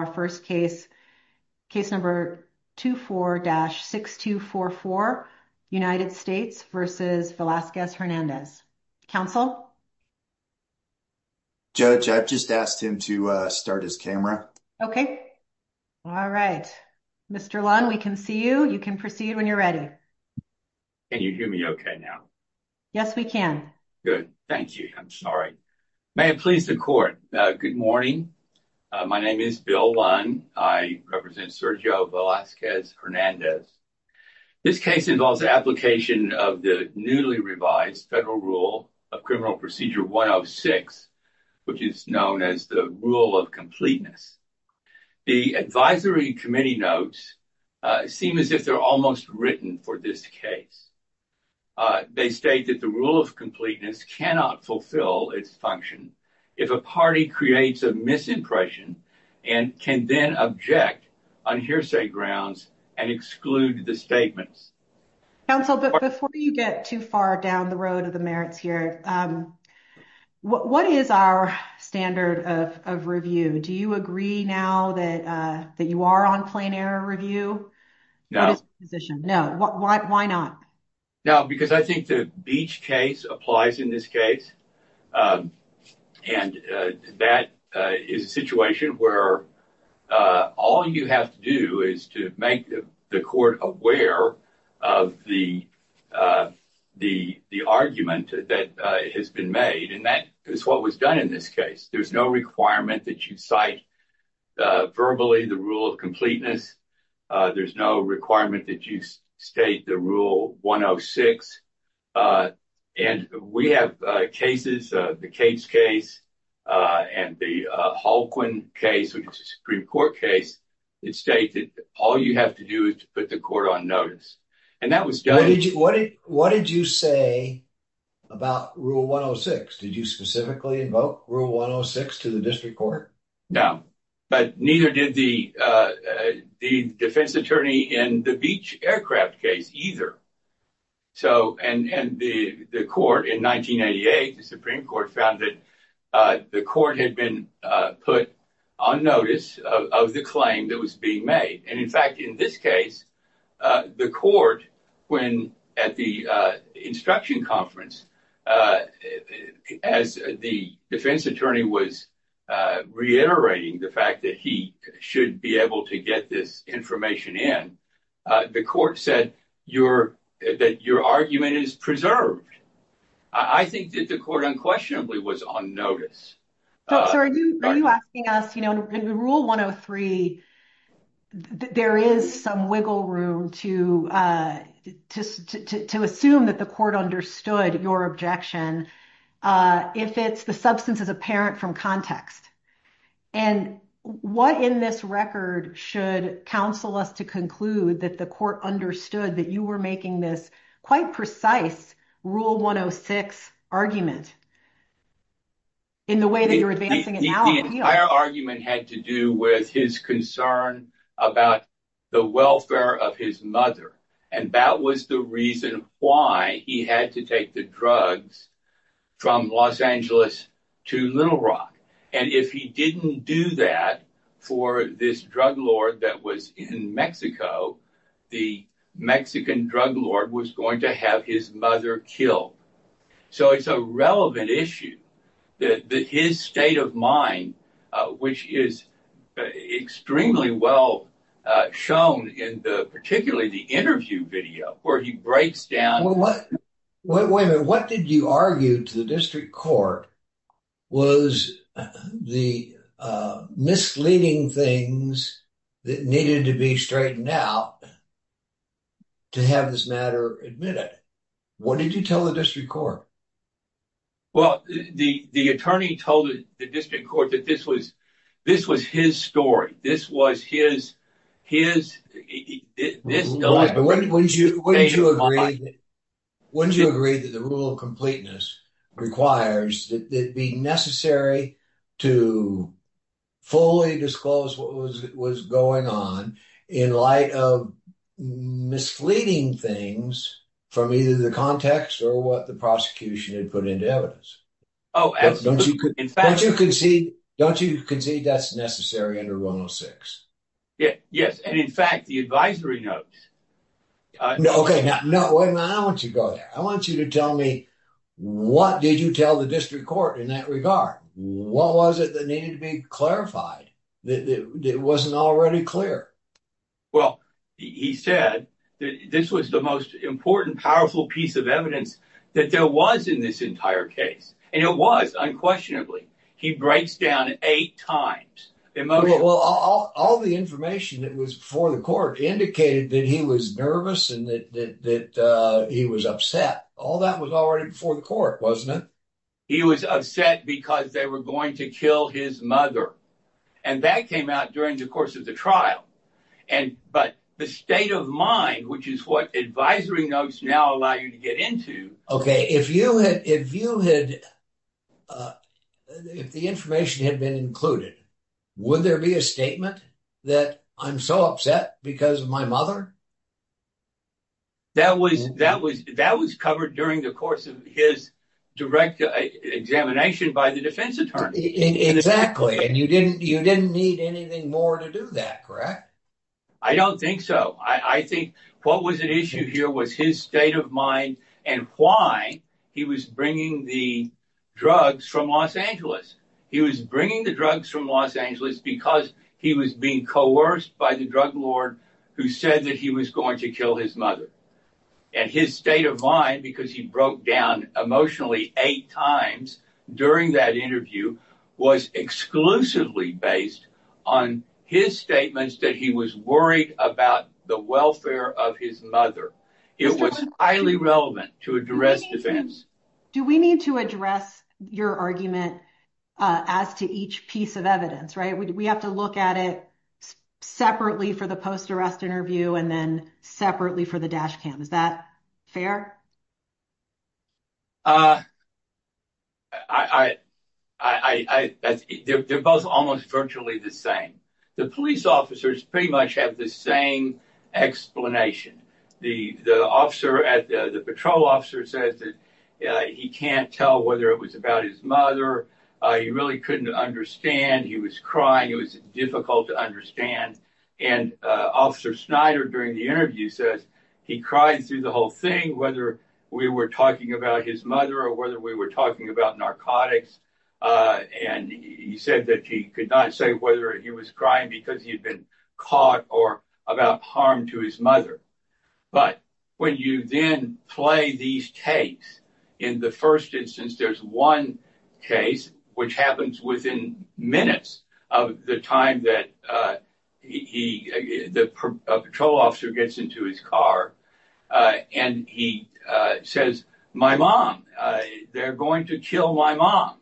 Our first case, case number 24-6244, United States v. Velazquez Hernandez. Counsel? Judge, I've just asked him to start his camera. Okay. Alright. Mr. Lunn, we can see you. You can proceed when you're ready. Can you hear me okay now? Yes, we can. Good. Thank you. I'm sorry. May it please the court. Good morning. My name is Bill Lunn. I represent Sergio Velazquez Hernandez. This case involves the application of the newly revised federal rule of criminal procedure 106, which is known as the rule of completeness. The advisory committee notes seem as if they're almost written for this case. They state that the rule of completeness cannot fulfill its function if a party creates a misimpression and can then object on hearsay grounds and exclude the statements. Counsel, but before you get too far down the road of the merits here, what is our standard of review? Do you agree now that you are on plain error review? No. What is your position? No. Why not? No, because I think the Beach case applies in this case, and that is a situation where all you have to do is to make the court aware of the argument that has been made, and that is what was done in this case. There's no requirement that you cite verbally the rule of completeness. There's no requirement that you state the rule 106, and we have cases, the Cates case and the Halquin case, which is a Supreme Court case. It states that all you have to do is to put the court on notice, and that was done. What did you say about rule 106? Did you specifically invoke rule 106 to the district court? No. But neither did the defense attorney in the Beach aircraft case either, and the court in 1988, the Supreme Court found that the court had been put on notice of the claim that was being made. In fact, in this case, the court, when at the instruction conference, as the defense attorney was reiterating the fact that he should be able to get this information in, the court said that your argument is preserved. I think that the court unquestionably was on notice. So are you asking us, in rule 103, there is some wiggle room to assume that the court understood your objection. If it's the substance is apparent from context. And what in this record should counsel us to conclude that the court understood that you were making this quite precise rule 106 argument in the way that you're advancing it now? The entire argument had to do with his concern about the welfare of his mother. And that was the reason why he had to take the drugs from Los Angeles to Little Rock. And if he didn't do that for this drug lord that was in Mexico, the Mexican drug lord was going to have his mother killed. So it's a relevant issue. His state of mind, which is extremely well shown in the particularly the interview video where he breaks down. Wait a minute. What did you argue to the district court was the misleading things that needed to be straightened out to have this matter admitted? What did you tell the district court? Well, the attorney told the district court that this was this was his story. This was his his. This is when you when you agree when you agree that the rule of completeness requires that be necessary to fully disclose what was going on in light of misleading things from either the context or what the prosecution had put into evidence. Oh, absolutely. Don't you could in fact, you can see don't you can see that's necessary under Ronald Six? And in fact, the advisory notes. OK, now, no, I want you to go there. I want you to tell me, what did you tell the district court in that regard? What was it that needed to be clarified that it wasn't already clear? Well, he said that this was the most important, powerful piece of evidence that there was in this entire case, and it was unquestionably. He breaks down eight times. Well, all the information that was before the court indicated that he was nervous and that he was upset. All that was already before the court, wasn't it? He was upset because they were going to kill his mother. And that came out during the course of the trial. And but the state of mind, which is what advisory notes now allow you to get into. OK, if you had if you had the information had been included, would there be a statement that I'm so upset because of my mother? That was that was that was covered during the course of his direct examination by the defense attorney. Exactly. And you didn't you didn't need anything more to do that, correct? I don't think so. I think what was at issue here was his state of mind and why he was bringing the drugs from Los Angeles. He was bringing the drugs from Los Angeles because he was being coerced by the drug lord who said that he was going to kill his mother and his state of mind because he broke down emotionally eight times during that interview was exclusively based on his statements that he was worried about the welfare of his mother. It was highly relevant to address defense. Do we need to address your argument as to each piece of evidence? Right. We have to look at it separately for the post arrest interview and then separately for the dash cam. Is that fair? I think they're both almost virtually the same. The police officers pretty much have the same explanation. The officer at the patrol officer says that he can't tell whether it was about his mother. He really couldn't understand. He was crying. It was difficult to understand. And officer Snyder during the interview says he cried through the whole thing, whether we were talking about his mother or whether we were talking about narcotics. And he said that he could not say whether he was crying because he had been caught or about harm to his mother. But when you then play these tapes in the first instance, there's one case which happens within minutes of the time that he the patrol officer gets into his car and he says, my mom, they're going to kill my mom.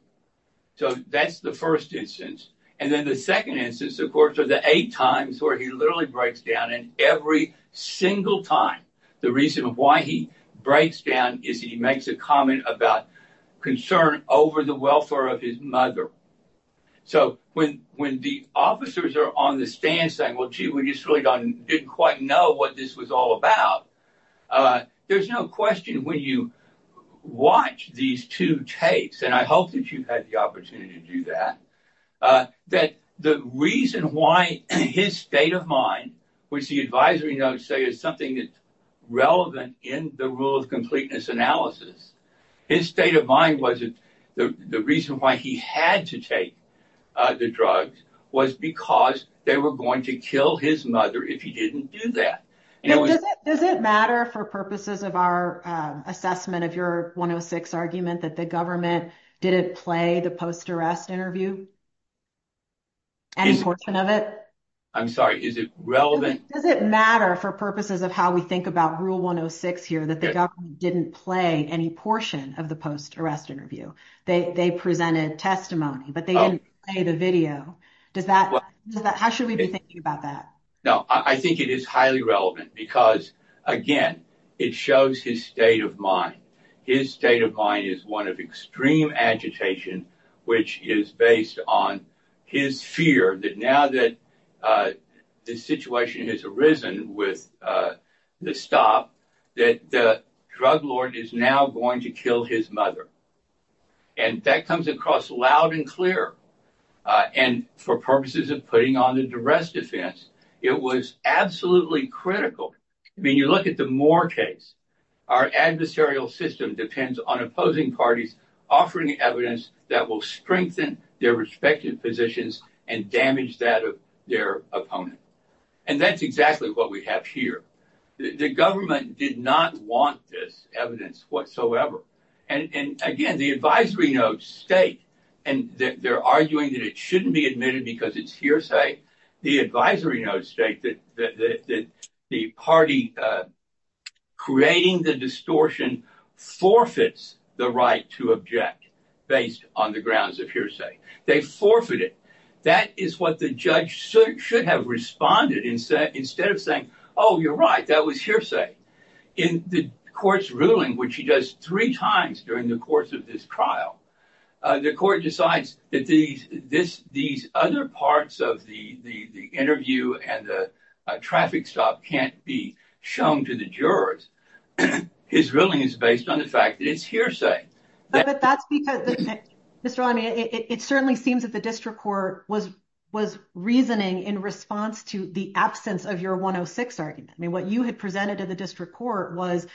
So that's the first instance. And then the second instance, of course, are the eight times where he literally breaks down and every single time. The reason why he breaks down is he makes a comment about concern over the welfare of his mother. So when when the officers are on the stand saying, well, gee, we just really didn't quite know what this was all about. There's no question when you watch these two tapes, and I hope that you've had the opportunity to do that, that the reason why his state of mind, which the advisory notes say is something that's relevant in the rule of completeness analysis, his state of mind wasn't the reason why he had to take the drug was because they were going to kill his mother if he didn't do that. Does it matter for purposes of our assessment of your 106 argument that the government didn't play the post-arrest interview? Any portion of it? I'm sorry. Is it relevant? Does it matter for purposes of how we think about rule 106 here that the government didn't play any portion of the post-arrest interview? They presented testimony, but they didn't play the video. Does that? How should we be thinking about that? No, I think it is highly relevant because, again, it shows his state of mind. His state of mind is one of extreme agitation, which is based on his fear that now that the situation has arisen with the stop, that the drug lord is now going to kill his mother. That comes across loud and clear. For purposes of putting on the duress defense, it was absolutely critical. You look at the Moore case. Our adversarial system depends on opposing parties offering evidence that will strengthen their respective positions and damage that of their opponent. That's exactly what we have here. The government did not want this evidence whatsoever. Again, the advisory notes state, and they're arguing that it shouldn't be admitted because it's hearsay. The advisory notes state that the party creating the distortion forfeits the right to object based on the grounds of hearsay. They forfeited. That is what the judge should have responded instead of saying, oh, you're right, that was hearsay. In the court's ruling, which he does three times during the course of this trial, the court decides that these other parts of the interview and the traffic stop can't be shown to the jurors. His ruling is based on the fact that it's hearsay. But that's because, Mr. Lamy, it certainly seems that the district court was reasoning in response to the absence of your 106 argument. What you had presented to the district court was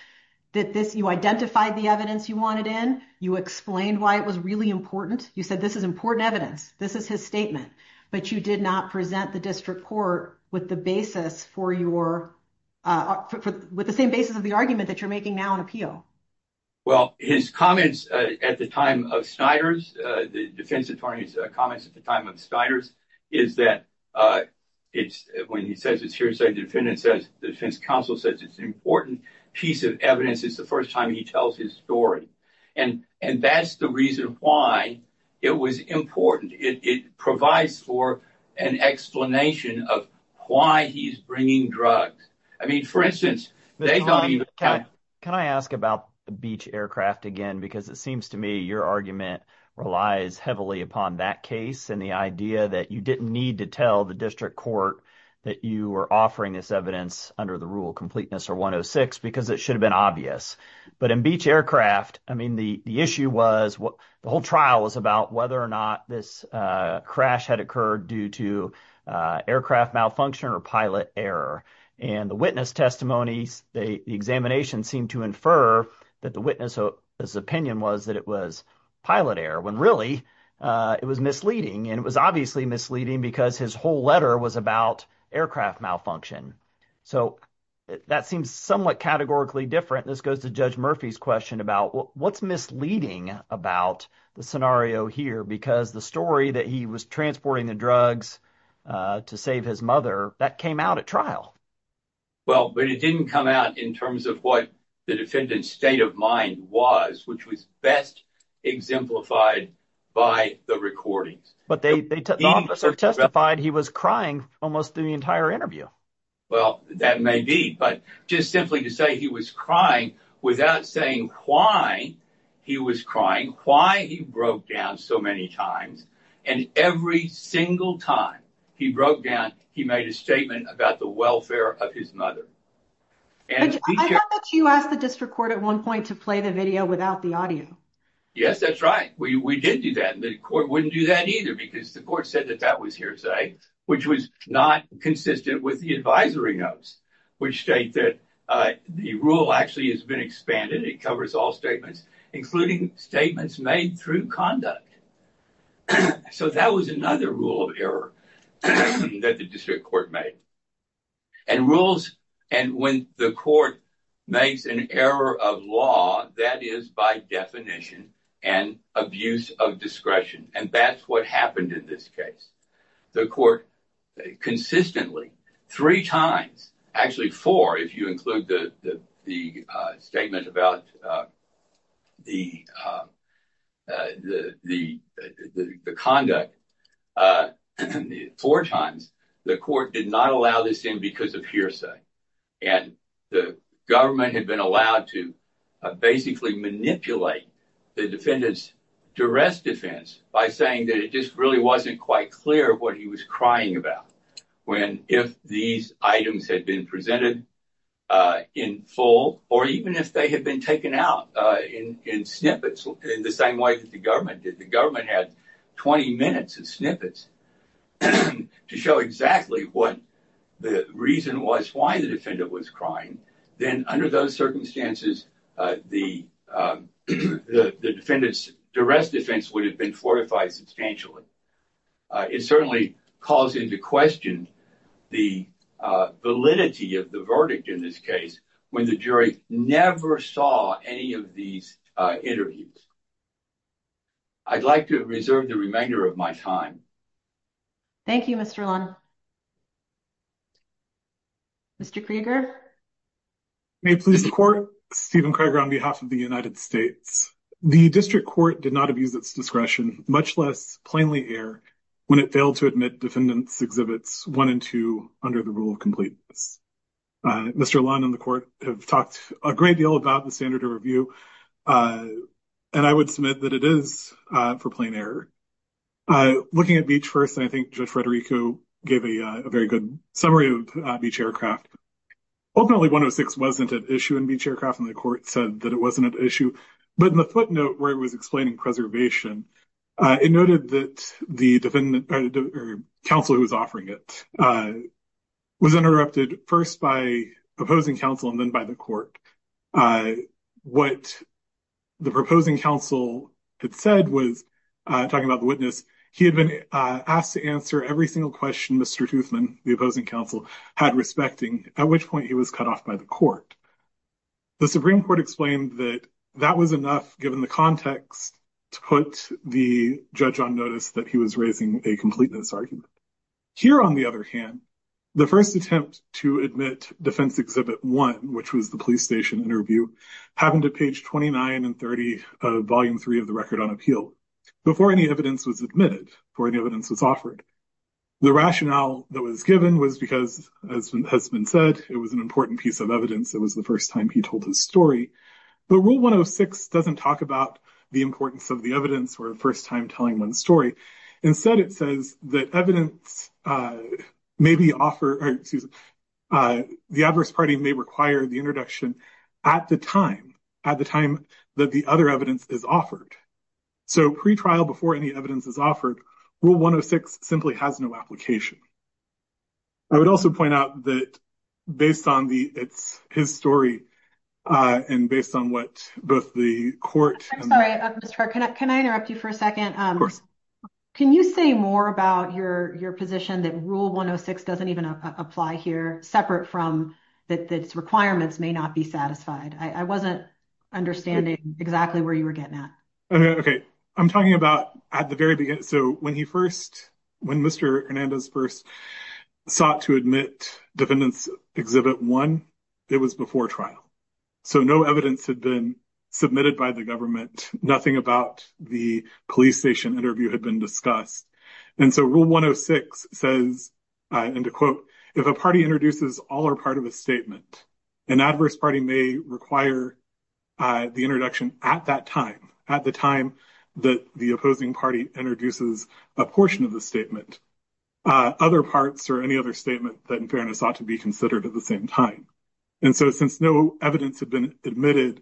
that you identified the evidence you wanted in. You explained why it was really important. You said this is important evidence. This is his statement. But you did not present the district court with the same basis of the argument that you're making now in appeal. Well, his comments at the time of Snyder's, the defense attorney's comments at the time of Snyder's, is that it's when he says it's hearsay, the defendant says, the defense counsel says it's an important piece of evidence. It's the first time he tells his story. And that's the reason why it was important. It provides for an explanation of why he's bringing drugs. I mean, for instance, can I ask about the beach aircraft again? Because it seems to me your argument relies heavily upon that case and the idea that you didn't need to tell the district court that you were offering this evidence under the rule completeness or 106 because it should have been obvious. But in beach aircraft, I mean, the issue was the whole trial was about whether or not this crash had occurred due to aircraft malfunction or pilot error. And the witness testimonies, the examination seemed to infer that the witness's opinion was that it was pilot error when really it was misleading. And it was obviously misleading because his whole letter was about aircraft malfunction. So that seems somewhat categorically different. This goes to Judge Murphy's question about what's misleading about the scenario here because the story that he was transporting the drugs to save his mother, that came out at trial. Well, but it didn't come out in terms of what the defendant's state of mind was, which was best exemplified by the recordings. But the officer testified he was crying almost the entire interview. Well, that may be. But just simply to say he was crying without saying why he was crying, why he broke down so many times and every single time he broke down, he made a statement about the welfare of his mother. I thought that you asked the district court at one point to play the video without the Yes, that's right. We did do that. And the court wouldn't do that either because the court said that that was hearsay, which was not consistent with the advisory notes, which state that the rule actually has been expanded. It covers all statements, including statements made through conduct. So that was another rule of error that the district court made and rules. And when the court makes an error of law, that is by definition and abuse of discretion. And that's what happened in this case. The court consistently three times, actually four, if you include the statement about the conduct four times, the court did not allow this in because of hearsay. And the government had been allowed to basically manipulate the defendant's duress defense by saying that it just really wasn't quite clear what he was crying about when if these items had been presented in full or even if they had been taken out in snippets in the same way that the government did, the government had 20 minutes of snippets to show exactly what the reason was, why the defendant was crying. Then under those circumstances, the defendant's duress defense would have been fortified substantially. It certainly calls into question the validity of the verdict in this case when the jury never saw any of these interviews. I'd like to reserve the remainder of my time. Thank you, Mr. Lund. Mr. Krieger? May it please the court, Stephen Krieger on behalf of the United States. The district court did not abuse its discretion, much less plainly error, when it failed to admit defendants' exhibits one and two under the rule of completeness. Mr. Lund and the court have talked a great deal about the standard of review, and I would submit that it is for plain error. Looking at Beach first, I think Judge Federico gave a very good summary of Beach Aircraft. Ultimately, 106 wasn't an issue in Beach Aircraft, and the court said that it wasn't an issue. But in the footnote where it was explaining preservation, it noted that the counsel who was offering it was interrupted first by proposing counsel and then by the court. What the proposing counsel had said was, talking about the witness, he had been asked to answer every single question Mr. Toothman, the opposing counsel, had respecting, at which point he was cut off by the court. The Supreme Court explained that that was enough, given the context, to put the judge on notice that he was raising a completeness argument. Here on the other hand, the first attempt to admit defense exhibit one, which was the police station interview, happened at page 29 and 30 of Volume 3 of the Record on Appeal, before any evidence was admitted, before any evidence was offered. The rationale that was given was because, as has been said, it was an important piece of evidence. It was the first time he told his story. But Rule 106 doesn't talk about the importance of the evidence or a first time telling one's story. Instead, it says that evidence may be offered, excuse me, the adverse party may require the introduction at the time, at the time that the other evidence is offered. So pre-trial, before any evidence is offered, Rule 106 simply has no application. I would also point out that based on the, it's his story, and based on what both the court and- I'm sorry, Mr. Hart, can I interrupt you for a second? Can you say more about your position that Rule 106 doesn't even apply here, separate from that its requirements may not be satisfied? I wasn't understanding exactly where you were getting at. Okay. I'm talking about at the very beginning. So when he first, when Mr. Hernandez first sought to admit defendants exhibit one, it was before trial. So no evidence had been submitted by the government, nothing about the police station interview had been discussed. And so Rule 106 says, and to quote, if a party introduces all or part of a statement, an adverse party may require the introduction at that time, at the time that the opposing party introduces a portion of the statement, other parts or any other statement that in fairness ought to be considered at the same time. And so since no evidence had been admitted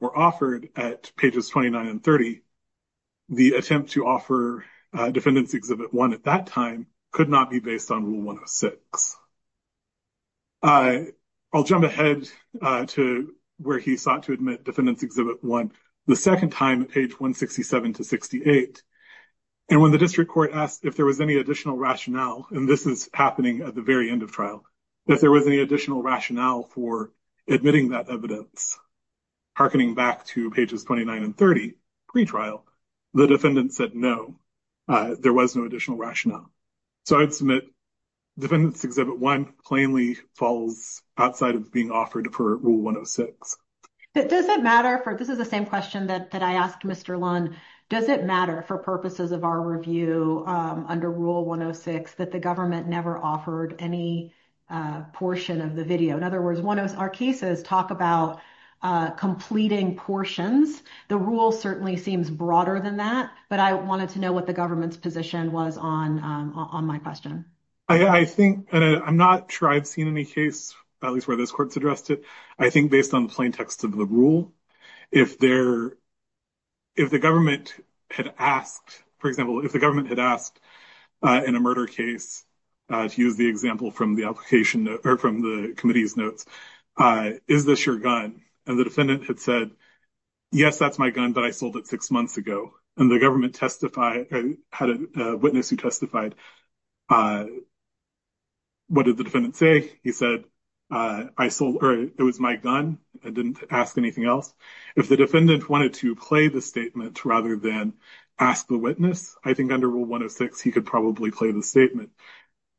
or offered at pages 29 and 30, the attempt to offer defendants exhibit one at that time could not be based on Rule 106. I'll jump ahead to where he sought to admit defendants exhibit one, the second time at page 167 to 68. And when the district court asked if there was any additional rationale, and this is happening at the very end of trial, if there was any additional rationale for admitting that evidence, hearkening back to pages 29 and 30, pretrial, the defendant said no, there was no additional rationale. So I'd submit defendants exhibit one plainly falls outside of being offered for Rule 106. But does it matter for, this is the same question that I asked Mr. Lund, does it matter for the purposes of our review under Rule 106 that the government never offered any portion of the video? In other words, when our cases talk about completing portions, the rule certainly seems broader than that, but I wanted to know what the government's position was on my question. I think, and I'm not sure I've seen any case, at least where this court's addressed it, I think based on the plain text of the rule, if the government had asked, for example, if the government had asked in a murder case, to use the example from the application, or from the committee's notes, is this your gun? And the defendant had said, yes, that's my gun, but I sold it six months ago. And the government testified, had a witness who testified, what did the defendant say? He said, it was my gun, I didn't ask anything else. If the defendant wanted to play the statement rather than ask the witness, I think under Rule 106 he could probably play the statement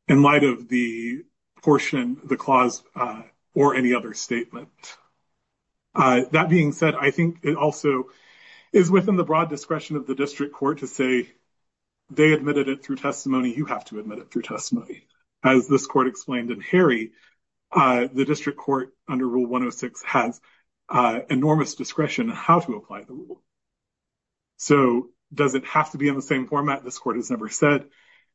in light of the portion, the clause, or any other statement. That being said, I think it also is within the broad discretion of the district court to say they admitted it through testimony, you have to admit it through testimony. As this court explained in Harry, the district court under Rule 106 has enormous discretion how to apply the rule. So does it have to be in the same format? This court has never said,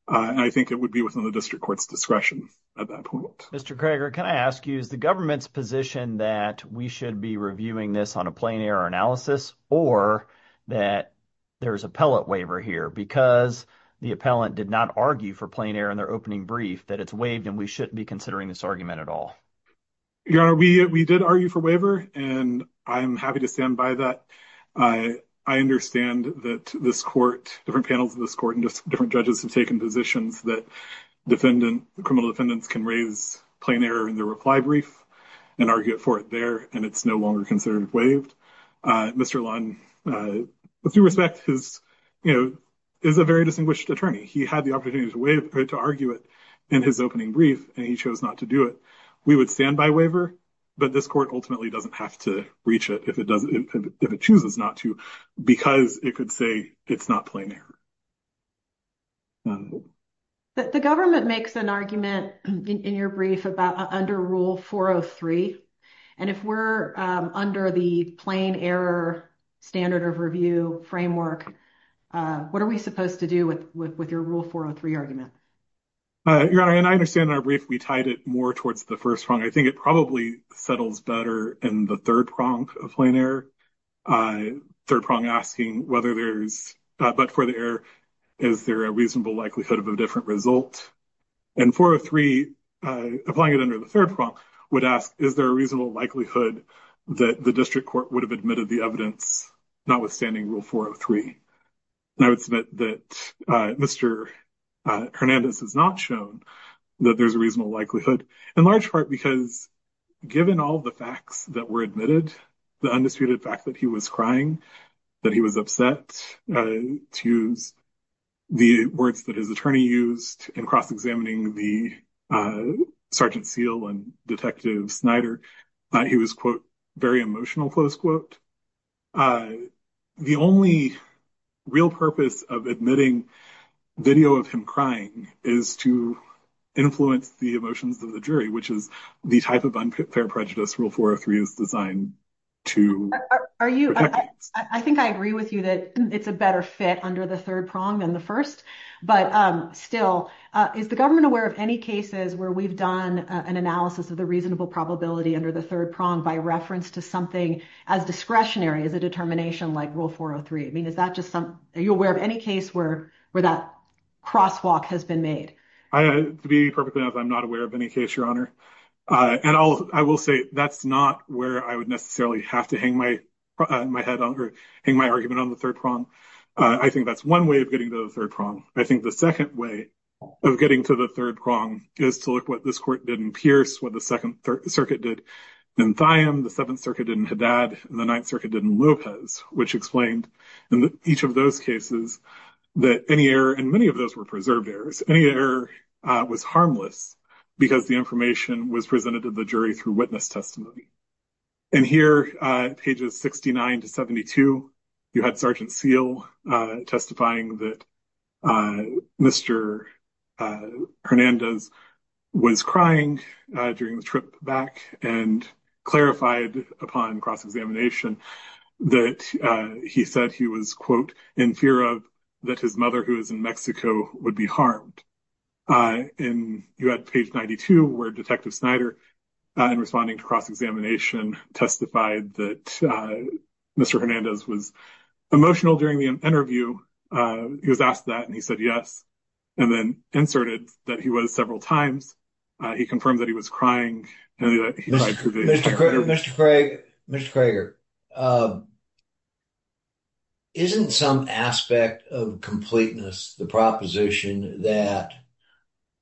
and I think it would be within the district court's discretion at that point. Mr. Krager, can I ask you, is the government's position that we should be reviewing this on a plain error analysis, or that there's a pellet waiver here, because the appellant did not argue for plain error in their opening brief, that it's waived and we shouldn't be considering this argument at all? Your Honor, we did argue for waiver, and I'm happy to stand by that. I understand that this court, different panels of this court and different judges have taken positions that criminal defendants can raise plain error in their reply brief and argue for it there, and it's no longer considered waived. Mr. Lund, with due respect, is a very distinguished attorney. He had the opportunity to argue it in his opening brief, and he chose not to do it. We would stand by waiver, but this court ultimately doesn't have to reach it if it chooses not to because it could say it's not plain error. The government makes an argument in your brief about under Rule 403, and if we're under the plain error standard of review framework, what are we supposed to do with your Rule 403 argument? Your Honor, and I understand in our brief, we tied it more towards the first prong. I think it probably settles better in the third prong of plain error, third prong asking whether there's, but for the error, is there a reasonable likelihood of a different result? And 403, applying it under the third prong, would ask, is there a reasonable likelihood that the district court would have admitted the evidence notwithstanding Rule 403? And I would submit that Mr. Hernandez has not shown that there's a reasonable likelihood, in large part because given all the facts that were admitted, the undisputed fact that he was crying, that he was upset, to use the words that his attorney used in cross-examining the Sergeant Seal and Detective Snyder, he was, quote, very emotional, close quote. The only real purpose of admitting video of him crying is to influence the emotions of the jury, which is the type of unfair prejudice Rule 403 is designed to protect. I think I agree with you that it's a better fit under the third prong than the first, but still, is the government aware of any cases where we've done an analysis of the reasonable probability under the third prong by reference to something as discretionary as a determination like Rule 403? I mean, is that just some, are you aware of any case where that crosswalk has been made? To be perfectly honest, I'm not aware of any case, Your Honor, and I will say that's not where I would necessarily have to hang my head on or hang my argument on the third prong. I think that's one way of getting to the third prong. I think the second way of getting to the third prong is to look what this Court did in Pierce, what the Second Circuit did in Thiam, the Seventh Circuit did in Haddad, and the Ninth Circuit did in Lopez, which explained in each of those cases that any error, and many of those were preserved errors, any error was harmless because the information was presented to the jury through witness testimony. And here, pages 69 to 72, you had Sergeant Seale testifying that Mr. Hernandez was crying during the trip back and clarified upon cross-examination that he said he was, quote, in fear of that his mother, who is in Mexico, would be harmed. And you had page 92, where Detective Snyder, in responding to cross-examination, testified that Mr. Hernandez was emotional during the interview. He was asked that, and he said yes, and then inserted that he was several times. He confirmed that he was crying. Mr. Craig, Mr. Crager, isn't some aspect of completeness the proposition that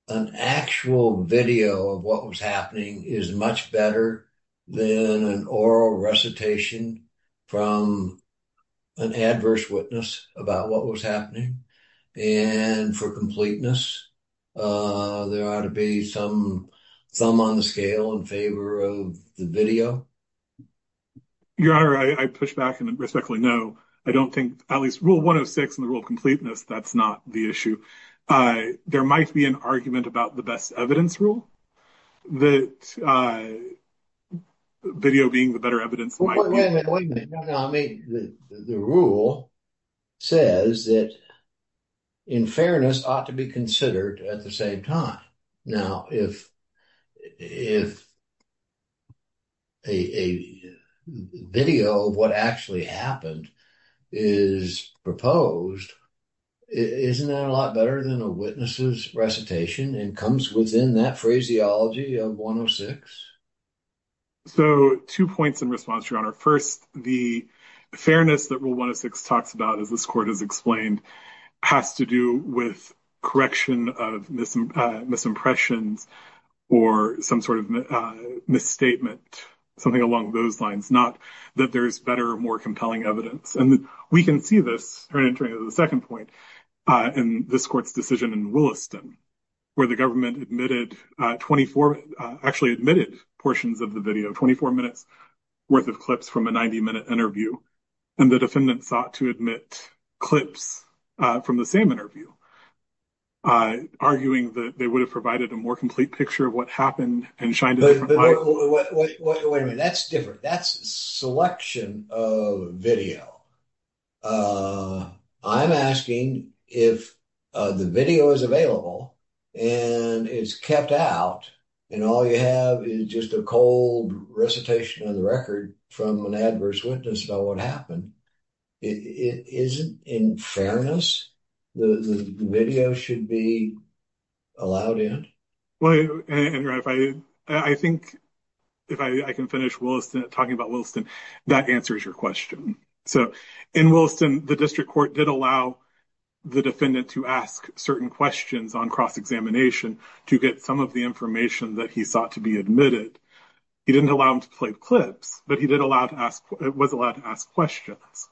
an actual video of what was happening is much better than an oral recitation from an adverse witness about what was happening? And for completeness, there ought to be some thumb on the scale in favor of the video? Your Honor, I push back and respectfully know I don't think, at least rule 106 in the there might be an argument about the best evidence rule, that video being the better evidence. The rule says that, in fairness, ought to be considered at the same time. Now, if a video of what actually happened is proposed, isn't that a lot better than a witness's recitation and comes within that phraseology of 106? So, two points in response, Your Honor. First, the fairness that rule 106 talks about, as this court has explained, has to do with correction of misimpressions or some sort of misstatement, something along those lines, not that there's better, more compelling evidence. We can see this entering the second point in this court's decision in Williston, where the government admitted 24, actually admitted portions of the video, 24 minutes worth of clips from a 90-minute interview, and the defendant sought to admit clips from the same interview, arguing that they would have provided a more complete picture of what happened. Wait a minute, that's different. That's a selection of video. I'm asking if the video is available and is kept out, and all you have is just a cold recitation of the record from an adverse witness about what happened, isn't, in fairness, the video should be allowed in? Well, Andrew, I think if I can finish talking about Williston, that answers your question. So, in Williston, the district court did allow the defendant to ask certain questions on cross-examination to get some of the information that he sought to be admitted. He didn't allow him to play clips, but he was allowed to ask questions.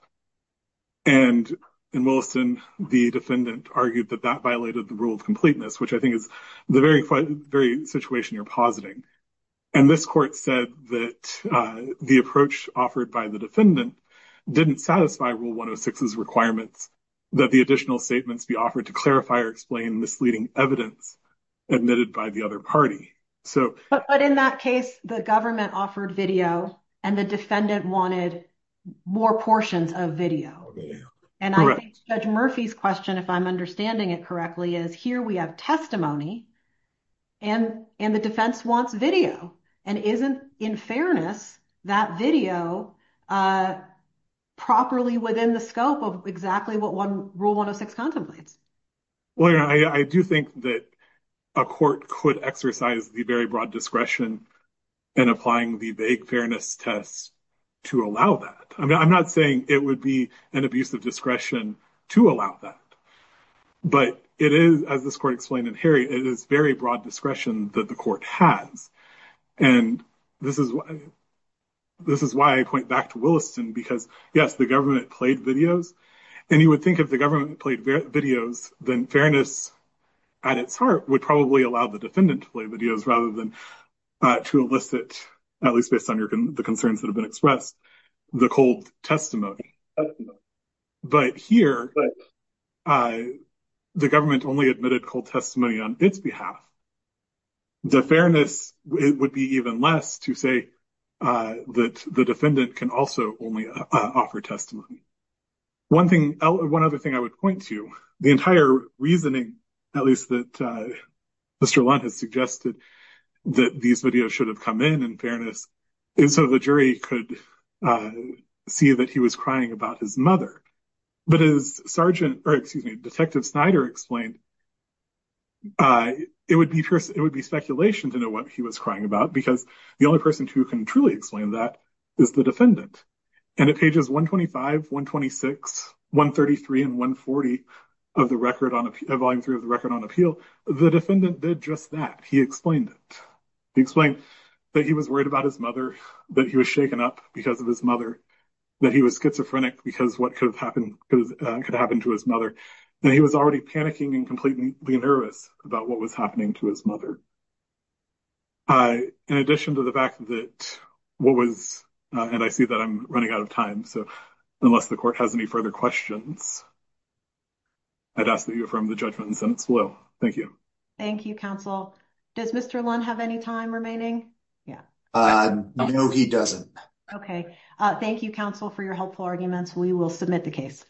And in Williston, the defendant argued that that violated the rule of completeness, which I think is the very situation you're positing. And this court said that the approach offered by the defendant didn't satisfy Rule 106's requirements that the additional statements be offered to clarify or explain misleading evidence admitted by the other party. But in that case, the government offered video and the defendant wanted more portions of video. And I think Judge Murphy's question, if I'm understanding it correctly, is here we have testimony and the defense wants video. And isn't, in fairness, that video properly within the scope of exactly what Rule 106 contemplates? Well, I do think that a court could exercise the very broad discretion in applying the vague fairness tests to allow that. I mean, I'm not saying it would be an abuse of discretion to allow that, but it is, as this court explained in Harry, it is very broad discretion that the court has. And this is why I point back to Williston, because, yes, the government played videos. And you would think if the government played videos, then fairness at its heart would probably allow the defendant to play videos rather than to elicit, at least based on the concerns that have been expressed, the cold testimony. But here, the government only admitted cold testimony on its behalf. The fairness would be even less to say that the defendant can also only offer testimony. One thing, one other thing I would point to, the entire reasoning, at least that Mr. Lund has suggested that these videos should have come in, in fairness, and so the jury could see that he was crying about his mother. But as Sergeant, or excuse me, Detective Snyder explained, it would be speculation to know what he was crying about, because the only person who can truly explain that is the defendant. And at pages 125, 126, 133, and 140 of the record on, volume three of the record on appeal, the defendant did just that. He explained it. He explained that he was worried about his mother, that he was shaken up because of his mother, that he was schizophrenic because what could have happened to his mother, and he was already panicking and completely nervous about what was happening to his mother. In addition to the fact that what was, and I see that I'm running out of time, so unless the court has any further questions, I'd ask that you affirm the judgment in the sentence below. Thank you. Thank you, counsel. Does Mr. Lund have any time remaining? No, he doesn't. Okay. Thank you, counsel, for your helpful arguments. We will submit the case.